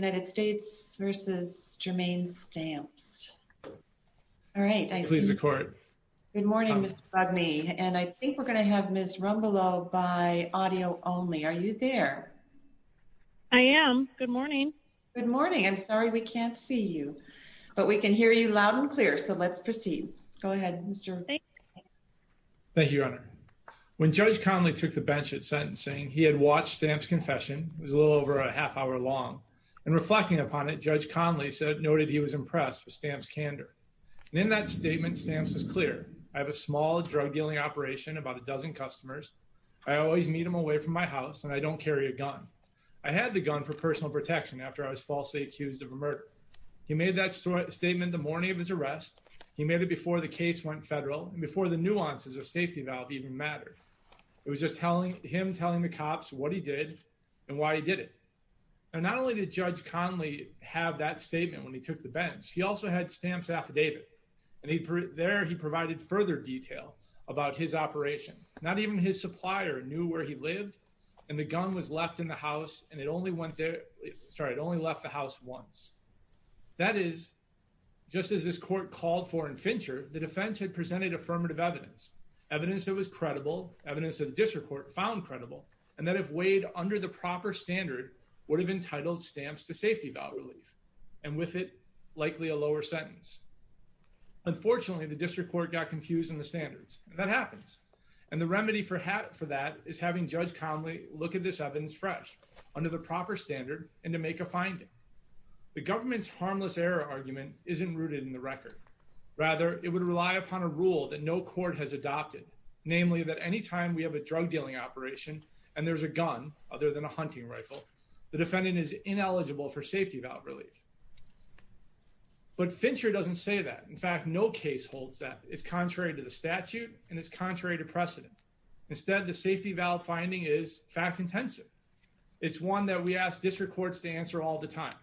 Good morning, Ms. Bugney, and I think we're going to have Ms. Rumbleau by audio only. Are you there? I am. Good morning. Good morning. I'm sorry we can't see you, but we can hear you loud and clear, so let's proceed. Go ahead, Mr. Rumbleau. Thank you, Your Honor. When Judge Conley took the bench at sentencing, he had watched Stamps' confession. It was a little over a half hour long, and reflecting upon it, Judge Conley noted he was impressed with Stamps' candor, and in that statement, Stamps was clear. I have a small drug-dealing operation, about a dozen customers. I always meet them away from my house, and I don't carry a gun. I had the gun for personal protection after I was falsely accused of a murder. He made that statement the morning of his arrest. He made it before the case went federal and before the and why he did it. And not only did Judge Conley have that statement when he took the bench, he also had Stamps' affidavit, and there he provided further detail about his operation. Not even his supplier knew where he lived, and the gun was left in the house, and it only went there, sorry, it only left the house once. That is, just as this court called for in Fincher, the defense had presented affirmative evidence, evidence that was credible, evidence that the district court found credible, and that if weighed under the proper standard, would have entitled Stamps to safety valve relief, and with it likely a lower sentence. Unfortunately, the district court got confused in the standards, and that happens, and the remedy for that is having Judge Conley look at this evidence fresh, under the proper standard, and to make a finding. The government's harmless error argument isn't rooted in the record. Rather, it would rely upon a rule that no court has adopted, namely, that any time we have a drug dealing operation, and there's a gun, other than a hunting rifle, the defendant is ineligible for safety valve relief. But Fincher doesn't say that. In fact, no case holds that. It's contrary to the statute, and it's contrary to precedent. Instead, the safety valve finding is fact-intensive. It's one that we ask district courts to answer all the time.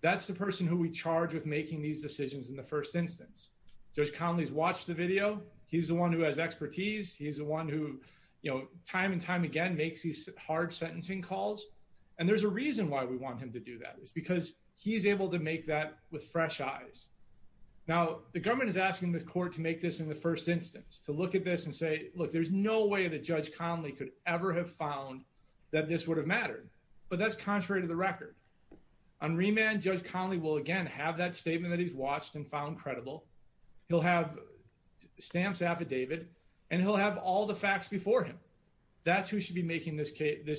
That's the person who we charge with making these decisions in the first instance. Judge Conley's watched the video. He's the one who has expertise. He's the one who, you know, time and time again makes these hard sentencing calls, and there's a reason why we want him to do that. It's because he's able to make that with fresh eyes. Now, the government is asking the court to make this in the first instance, to look at this and say, look, there's no way that Judge Conley could ever have found that this would have mattered, but that's contrary to the record. On remand, Judge Conley will again have that statement that he's watched and found credible. He'll have stamps affidavit, and he'll have all the facts before him. That's who should be making this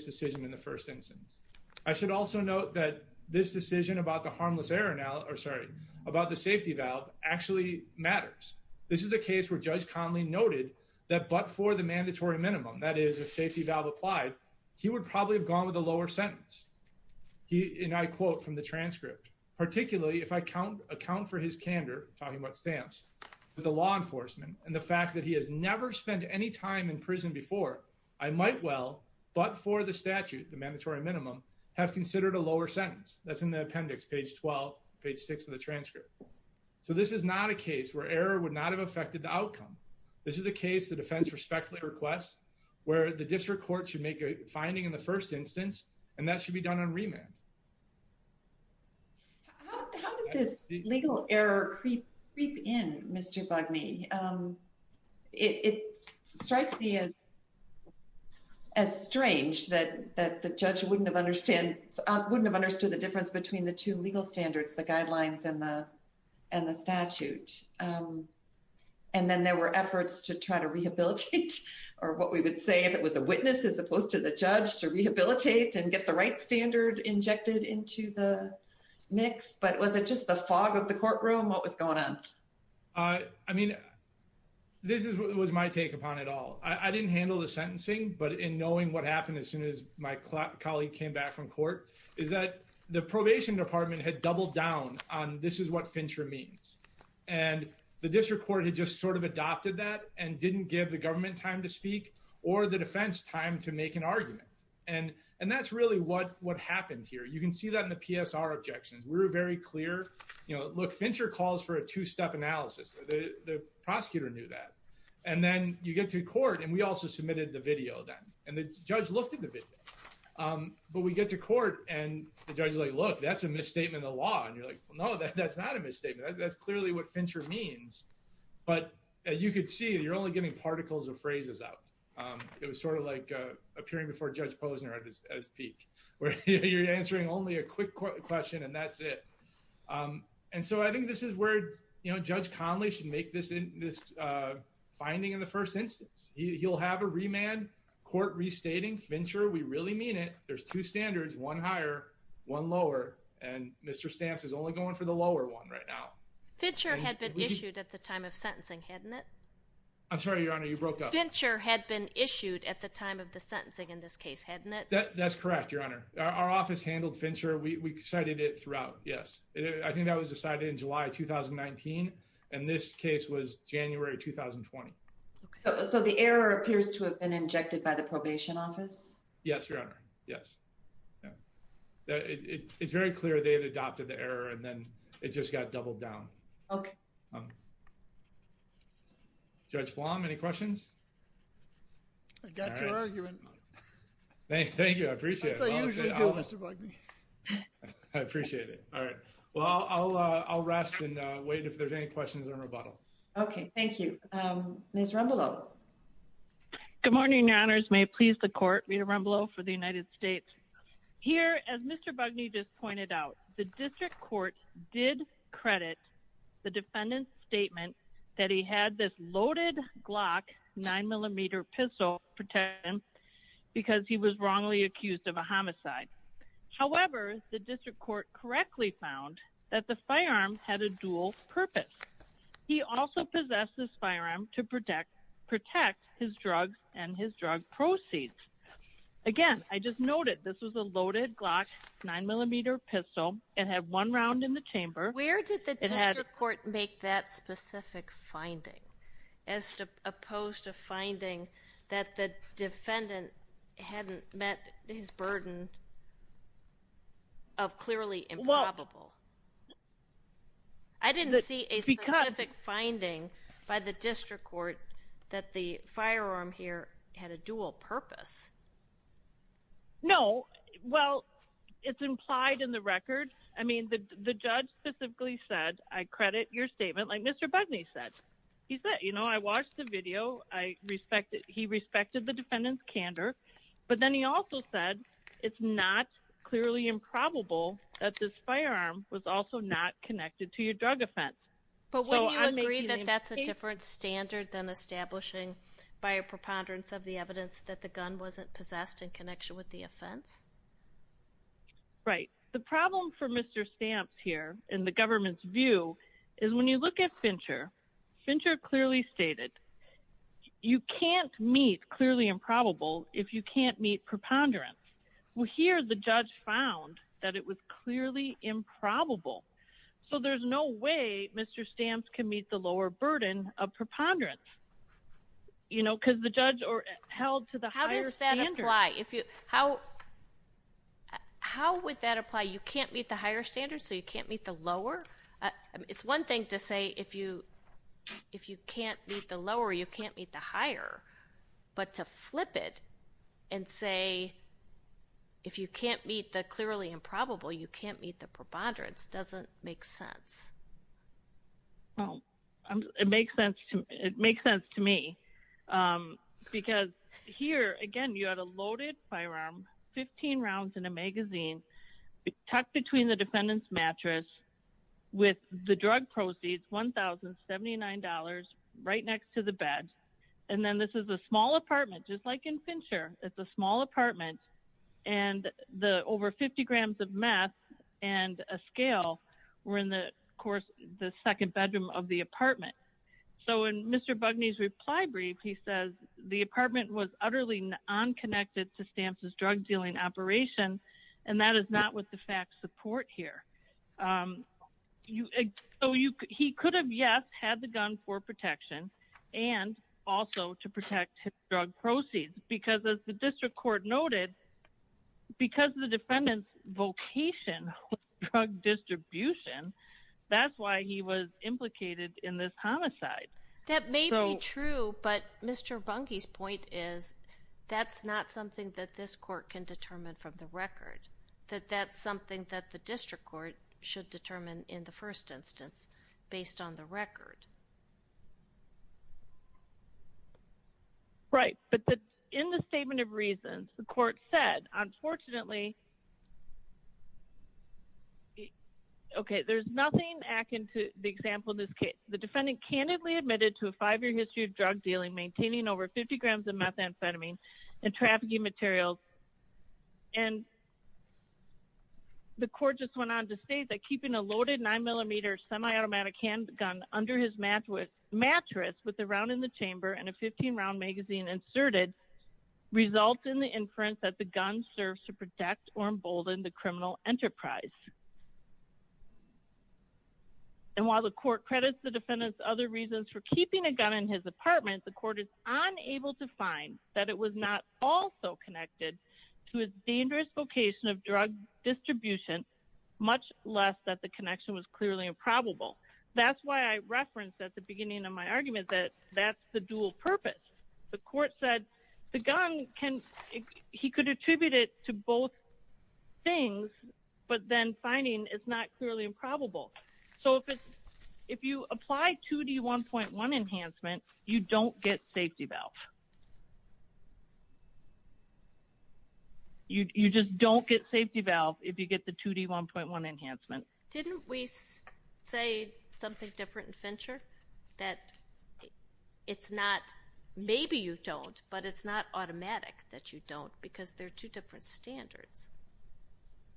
decision in the first instance. I should also note that this decision about the harmless error now, or sorry, about the safety valve actually matters. This is a case where Judge Conley noted that but for the mandatory minimum, that is, a safety valve applied, he would probably have gone with a lower sentence. And I quote from the transcript, particularly if I account for his candor, talking about stamps, with the law enforcement and the fact that he has never spent any time in prison before, I might well, but for the statute, the mandatory minimum, have considered a lower sentence. That's in the appendix, page 12, page 6 of the transcript. So this is not a case where error would not have affected the outcome. This is a case the defense respectfully requests, where the district court should make a finding in the first instance, and that should be done on remand. How did this legal error creep in, Mr. Bugney? It strikes me as strange that the judge wouldn't have understood the difference between the two legal standards, the guidelines and the and the statute. And then there were efforts to try to rehabilitate, or what we would say, it was a witness as opposed to the judge to rehabilitate and get the right standard injected into the mix. But was it just the fog of the courtroom? What was going on? I mean, this was my take upon it all. I didn't handle the sentencing. But in knowing what happened as soon as my colleague came back from court, is that the probation department had doubled down on this is what Fincher means. And the district court had just sort of adopted that and didn't give the government time to speak, or the defense time to make an argument. And, and that's really what what happened here. You can see that in the PSR objections, we're very clear. You know, look, Fincher calls for a two step analysis. The prosecutor knew that. And then you get to court and we also submitted the video then and the judge looked at the video. But we get to court and the judge like, look, that's a misstatement of law. And you're like, no, that's not a misstatement. That's clearly what Fincher means. But as you can see, you're only getting particles of phrases out. It was sort of like appearing before Judge Posner at his peak, where you're answering only a quick question, and that's it. And so I think this is where, you know, Judge Conley should make this in this finding in the first instance, he'll have a remand court restating Fincher, we really mean it. There's two standards, one higher, one lower, and Mr. Stamps is only going for the lower one right now. Fincher had been issued at the time of sentencing, hadn't it? I'm sorry, Your Honor, you broke up. Fincher had been issued at the time of the sentencing in this case, hadn't it? That's correct, Your Honor. Our office handled Fincher, we cited it throughout. Yes, I think that was decided in July 2019. And this case was January 2020. So the error appears to have been injected by the probation office? Yes, Your Honor, yes. It's very clear they had adopted the error and then it just got doubled down. Judge Flom, any questions? I got your argument. Thank you, I appreciate it. As I usually do, Mr. Bugbee. I appreciate it. All right. Well, I'll rest and wait if there's any questions in rebuttal. Okay, thank you. Ms. Rumbelow. Good morning, Your Honors. May it please the court, Rita Rumbelow for the United States. Here, as Mr. Bugbee just pointed out, the district court did credit the defendant's statement that he had this loaded Glock 9mm pistol protect him because he was wrongly accused of a homicide. However, the district court correctly found that the firearm had a dual purpose. He also possessed this firearm to protect his drugs and his drug proceeds. Again, I just noted this was a loaded Glock 9mm pistol. It had one round in the chamber. Where did the district court make that specific finding as opposed to finding that the defendant hadn't met his burden of clearly improbable? I didn't see a specific finding by the district court that the firearm here had a dual purpose. No, well, it's implied in the record. I mean, the judge specifically said, I credit your statement like Mr. Bugbee said. He said, you know, I watched the video. I respect the defendant's candor. But then he also said it's not clearly improbable that this firearm was also not connected to your drug offense. But wouldn't you agree that that's a different standard than establishing by a preponderance of the evidence that the gun wasn't possessed in connection with the offense? Right. The problem for Mr. Stamps here in the government's view is when you look at Fincher, Fincher clearly stated you can't meet clearly improbable if you can't meet preponderance. Well, here the judge found that it was clearly improbable. So there's no way Mr. Stamps can meet the lower burden of preponderance, you know, because the judge held to the higher standard. How does that apply? You can't meet higher standards so you can't meet the lower? It's one thing to say if you can't meet the lower, you can't meet the higher. But to flip it and say if you can't meet the clearly improbable, you can't meet the preponderance doesn't make sense. Well, it makes sense to me. Because here again, you had a loaded firearm, 15 rounds in a magazine, tucked between the defendant's mattress with the drug proceeds $1,079 right next to the bed. And then this is a small apartment, just like in Fincher, it's a small apartment. And the over 50 grams of meth and a scale were in the course, the second bedroom of the apartment. So in Mr. Bugney's reply brief, he says the apartment was utterly unconnected to Stamps' drug dealing operation. And that is not what the facts support here. He could have, yes, had the gun for protection, and also to protect his drug proceeds. Because as the district court noted, because the defendant's vocation was drug distribution, that's why he was implicated in this homicide. That may be true. But Mr. Bugney's point is, that's not something that this court can determine from the record, that that's something that the district court should determine in the first instance, based on the record. Right. But in the statement of reasons, the court said, unfortunately, okay, there's nothing akin to the example in this case, the defendant candidly admitted to five-year history of drug dealing, maintaining over 50 grams of methamphetamine and trafficking materials. And the court just went on to state that keeping a loaded nine millimeter semi-automatic handgun under his mattress with a round in the chamber and a 15-round magazine inserted results in the inference that the gun serves to protect or embolden the criminal enterprise. And while the court credits the defendant's other reasons for keeping a gun in his apartment, the court is unable to find that it was not also connected to his dangerous vocation of drug distribution, much less that the connection was clearly improbable. That's why I referenced at the beginning of my argument that that's the dual purpose. The court said the gun can, he could attribute it to both things, but then finding it's not clearly improbable. So if you apply 2D1.1 enhancement, you don't get safety valve. You just don't get safety valve if you get the 2D1.1 enhancement. Didn't we say something different in Fincher that it's not, maybe you don't, but it's not automatic that you don't, because they're two different standards.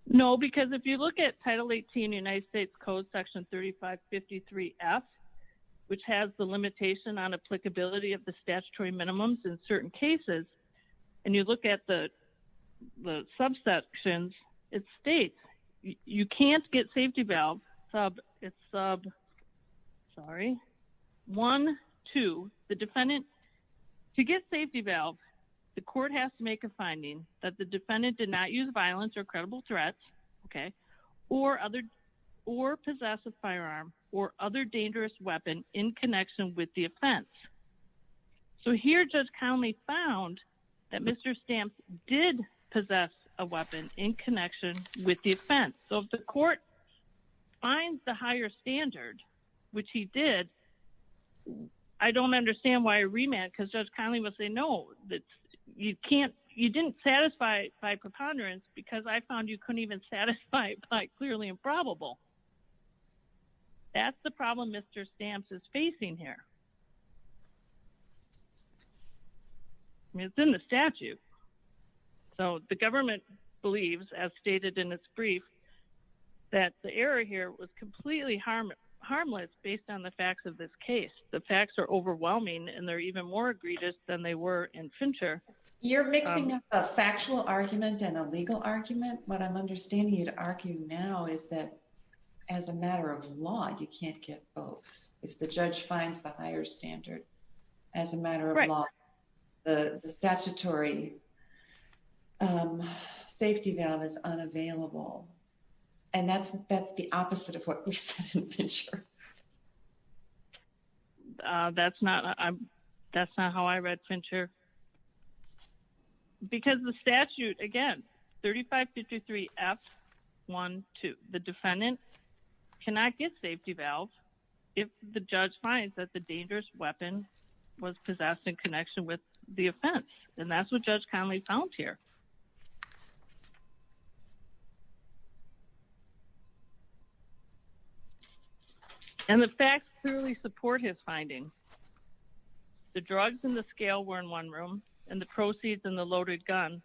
No, because if you look at Title 18 United States Code Section 3553F, which has the limitation on applicability of the statutory minimums in certain cases, and you look at the subsections, it states you can't get safety valve, it's sub, sorry, one, two, the defendant, to get safety valve, the court has to make a finding that the defendant did not use violence or credible threats, okay, or possess a firearm or other dangerous weapon in connection with the offense. So here Judge Conley found that Mr. Stamps did possess a weapon in connection with the offense. So if the court finds the higher standard, which he did, I don't understand why a remand, because Judge Conley will say, no, that you can't, you didn't satisfy my preponderance, because I found you couldn't even satisfy my clearly improbable. That's the problem Mr. Stamps is facing here. I mean, it's in the statute. So the government believes, as stated in this brief, that the error here was completely harmless based on the facts of this case. The facts are overwhelming, and they're even more egregious than they were in Fincher. You're mixing up a factual argument and a legal argument. What I'm understanding you'd argue now is that as a matter of law, you can't get both. If the judge finds the higher standard, as a matter of law, the statutory safety valve is unavailable. And that's the opposite of what we said in Fincher. That's not how I read Fincher. Because the statute, again, 3553 F-1-2, the defendant cannot get safety valves if the judge finds that the dangerous weapon was possessed in connection with the offense. And that's what Judge Conley found here. And the facts truly support his finding. The drugs in the scale were in one room, and the proceeds in the loaded gun,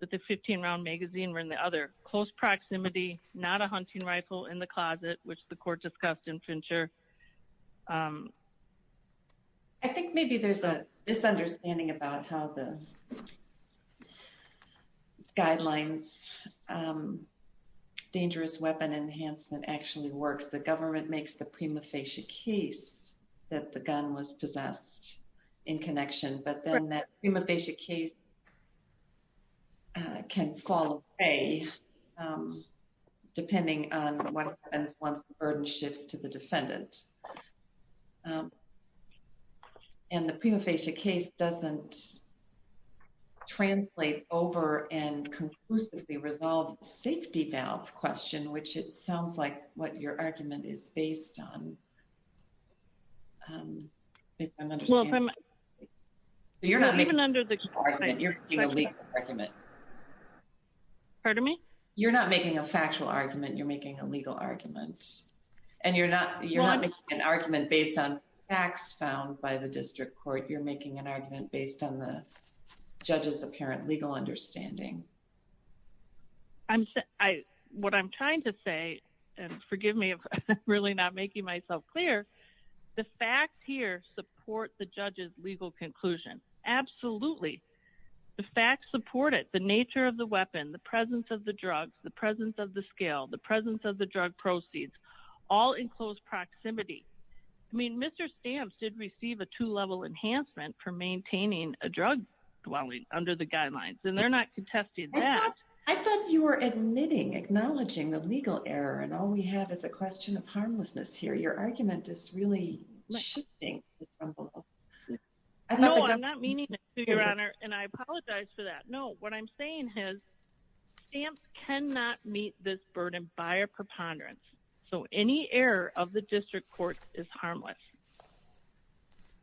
that the 15-round magazine were in the other. Close proximity, not a hunting rifle in the closet, which the court discussed in Fincher. I think maybe there's a misunderstanding about how the guidelines, dangerous weapon enhancement actually works. The government makes the prima facie case that the gun was possessed in connection. But then that prima facie case can fall away, depending on when the burden shifts to the defendant. And the prima facie case doesn't translate over and conclusively resolve the safety valve question, which it sounds like what your argument is based on, if I'm understanding. Well, if I'm... So you're not making a factual argument, you're making a legal argument. Pardon me? You're not making a factual argument, you're making a legal argument. And you're not making an argument based on facts found by the district court. You're making an argument based on the judge's apparent legal understanding. What I'm trying to say, and forgive me if I'm really not making myself clear, the facts here support the judge's legal conclusion. Absolutely. The facts support it, the nature of the weapon, the presence of the drugs, the presence of the scale, the presence of the drug proceeds, all in close proximity. I mean, Mr. Stamps did receive a two-level enhancement for maintaining a drug dwelling under the guidelines, and they're not contesting that. I thought you were admitting, acknowledging the legal error, and all we have is a question of harmlessness here. Your argument is really shifting. No, I'm not meaning to, Your Honor, and I apologize for that. No, what I'm saying is Stamps cannot meet this burden by a preponderance. So any error of the district court is harmless.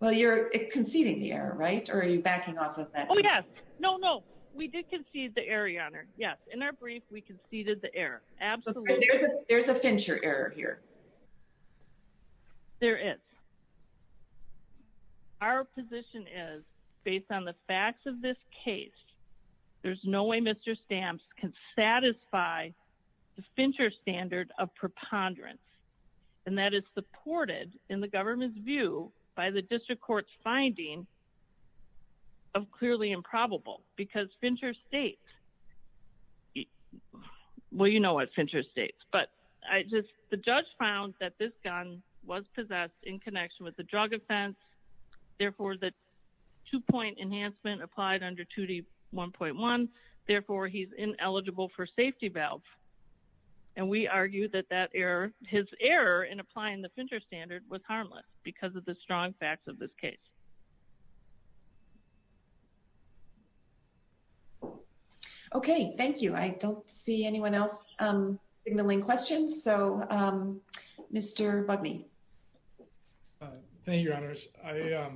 Well, you're conceding the error, right? Or are you backing off of that? Oh, yes. No, no. We did concede the error, Your Honor. Yes. In our brief, we conceded the error. Absolutely. There's a Fincher error here. There is. Our position is, based on the facts of this case, there's no way Mr. Stamps can satisfy the Fincher standard of preponderance, and that is supported in the government's view by the district court's finding of clearly improbable because Fincher states, well, you know what Fincher states, but I just, the judge found that this gun was possessed in connection with the drug offense. Therefore, the two-point enhancement applied under 2D1.1. Therefore, he's ineligible for safety valve. And we argue that his error in applying the Fincher standard was harmless because of the strong facts of this case. Okay. Thank you. I don't see anyone else signaling questions. So Mr. Bugney. Thank you, Your Honors. I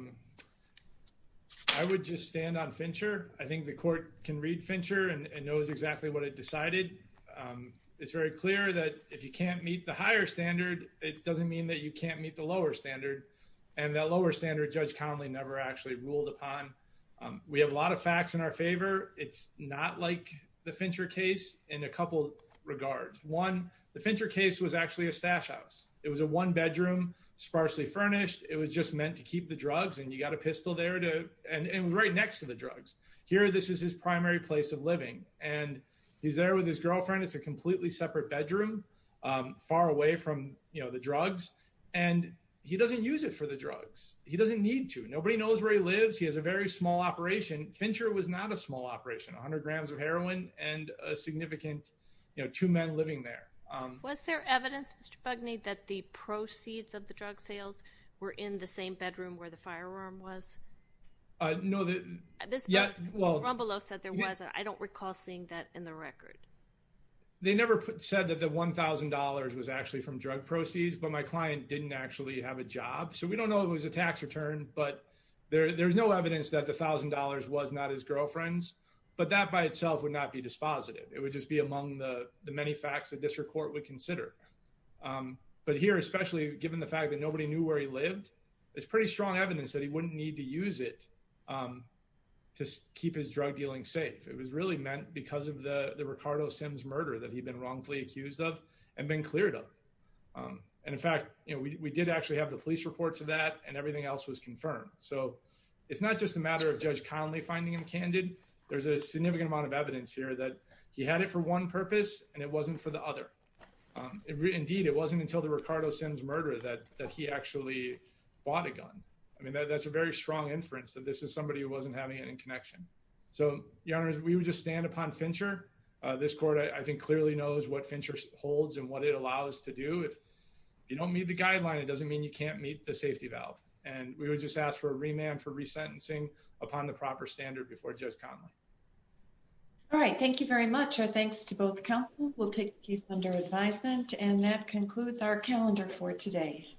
would just stand on Fincher. I think the court can read Fincher and knows exactly what it decided. It's very clear that if you can't meet the higher standard, it doesn't mean that you can't meet the lower standard. And that lower standard, Judge Conley never actually ruled upon. We have a lot of facts in our favor. It's not like the Fincher case in a couple regards. One, the Fincher case was actually a stash house. It was a one bedroom, sparsely furnished. It was just meant to keep the drugs and you got a pistol there to, and it was right next to the drugs. Here, this is his primary place of living. And he's there with his girlfriend. It's a completely separate bedroom, far away from, you know, the drugs. And he doesn't use it for the drugs. He doesn't need to. Nobody knows where he lives. He has a very small operation. Fincher was not a small operation, a hundred grams of heroin and a significant, you know, two men living there. Was there evidence, Mr. Bugney, that the proceeds of the drug sales were in the same bedroom where the firearm was? No, this, yeah. Well, Rombolo said there was, I don't recall seeing that in the record. They never said that the $1,000 was actually from drug proceeds, but my client didn't actually have a job. So we don't know it was a tax return, but there there's no evidence that the thousand dollars was not his girlfriend's, but that by itself would not be dispositive. It would just be among the many facts that district court would consider. But here, especially given the fact that nobody knew where he lived, it's pretty strong evidence that he wouldn't need to use it to keep his drug dealing safe. It was really meant because of the Ricardo Sims murder that he'd been wrongfully accused of and been cleared of. And in fact, you know, we did actually have the police reports of that and everything else was confirmed. So it's not just a matter of Judge finding him candid. There's a significant amount of evidence here that he had it for one purpose and it wasn't for the other. Indeed, it wasn't until the Ricardo Sims murder that he actually bought a gun. I mean, that's a very strong inference that this is somebody who wasn't having it in connection. So your honor, we would just stand upon Fincher. This court, I think, clearly knows what Fincher holds and what it allows us to do. If you don't meet the guideline, it doesn't mean you can't meet the safety valve. And we would just ask for a remand for resentencing upon the proper standard before Judge Connolly. All right. Thank you very much. Our thanks to both counsel. We'll take you under advisement and that concludes our calendar for today.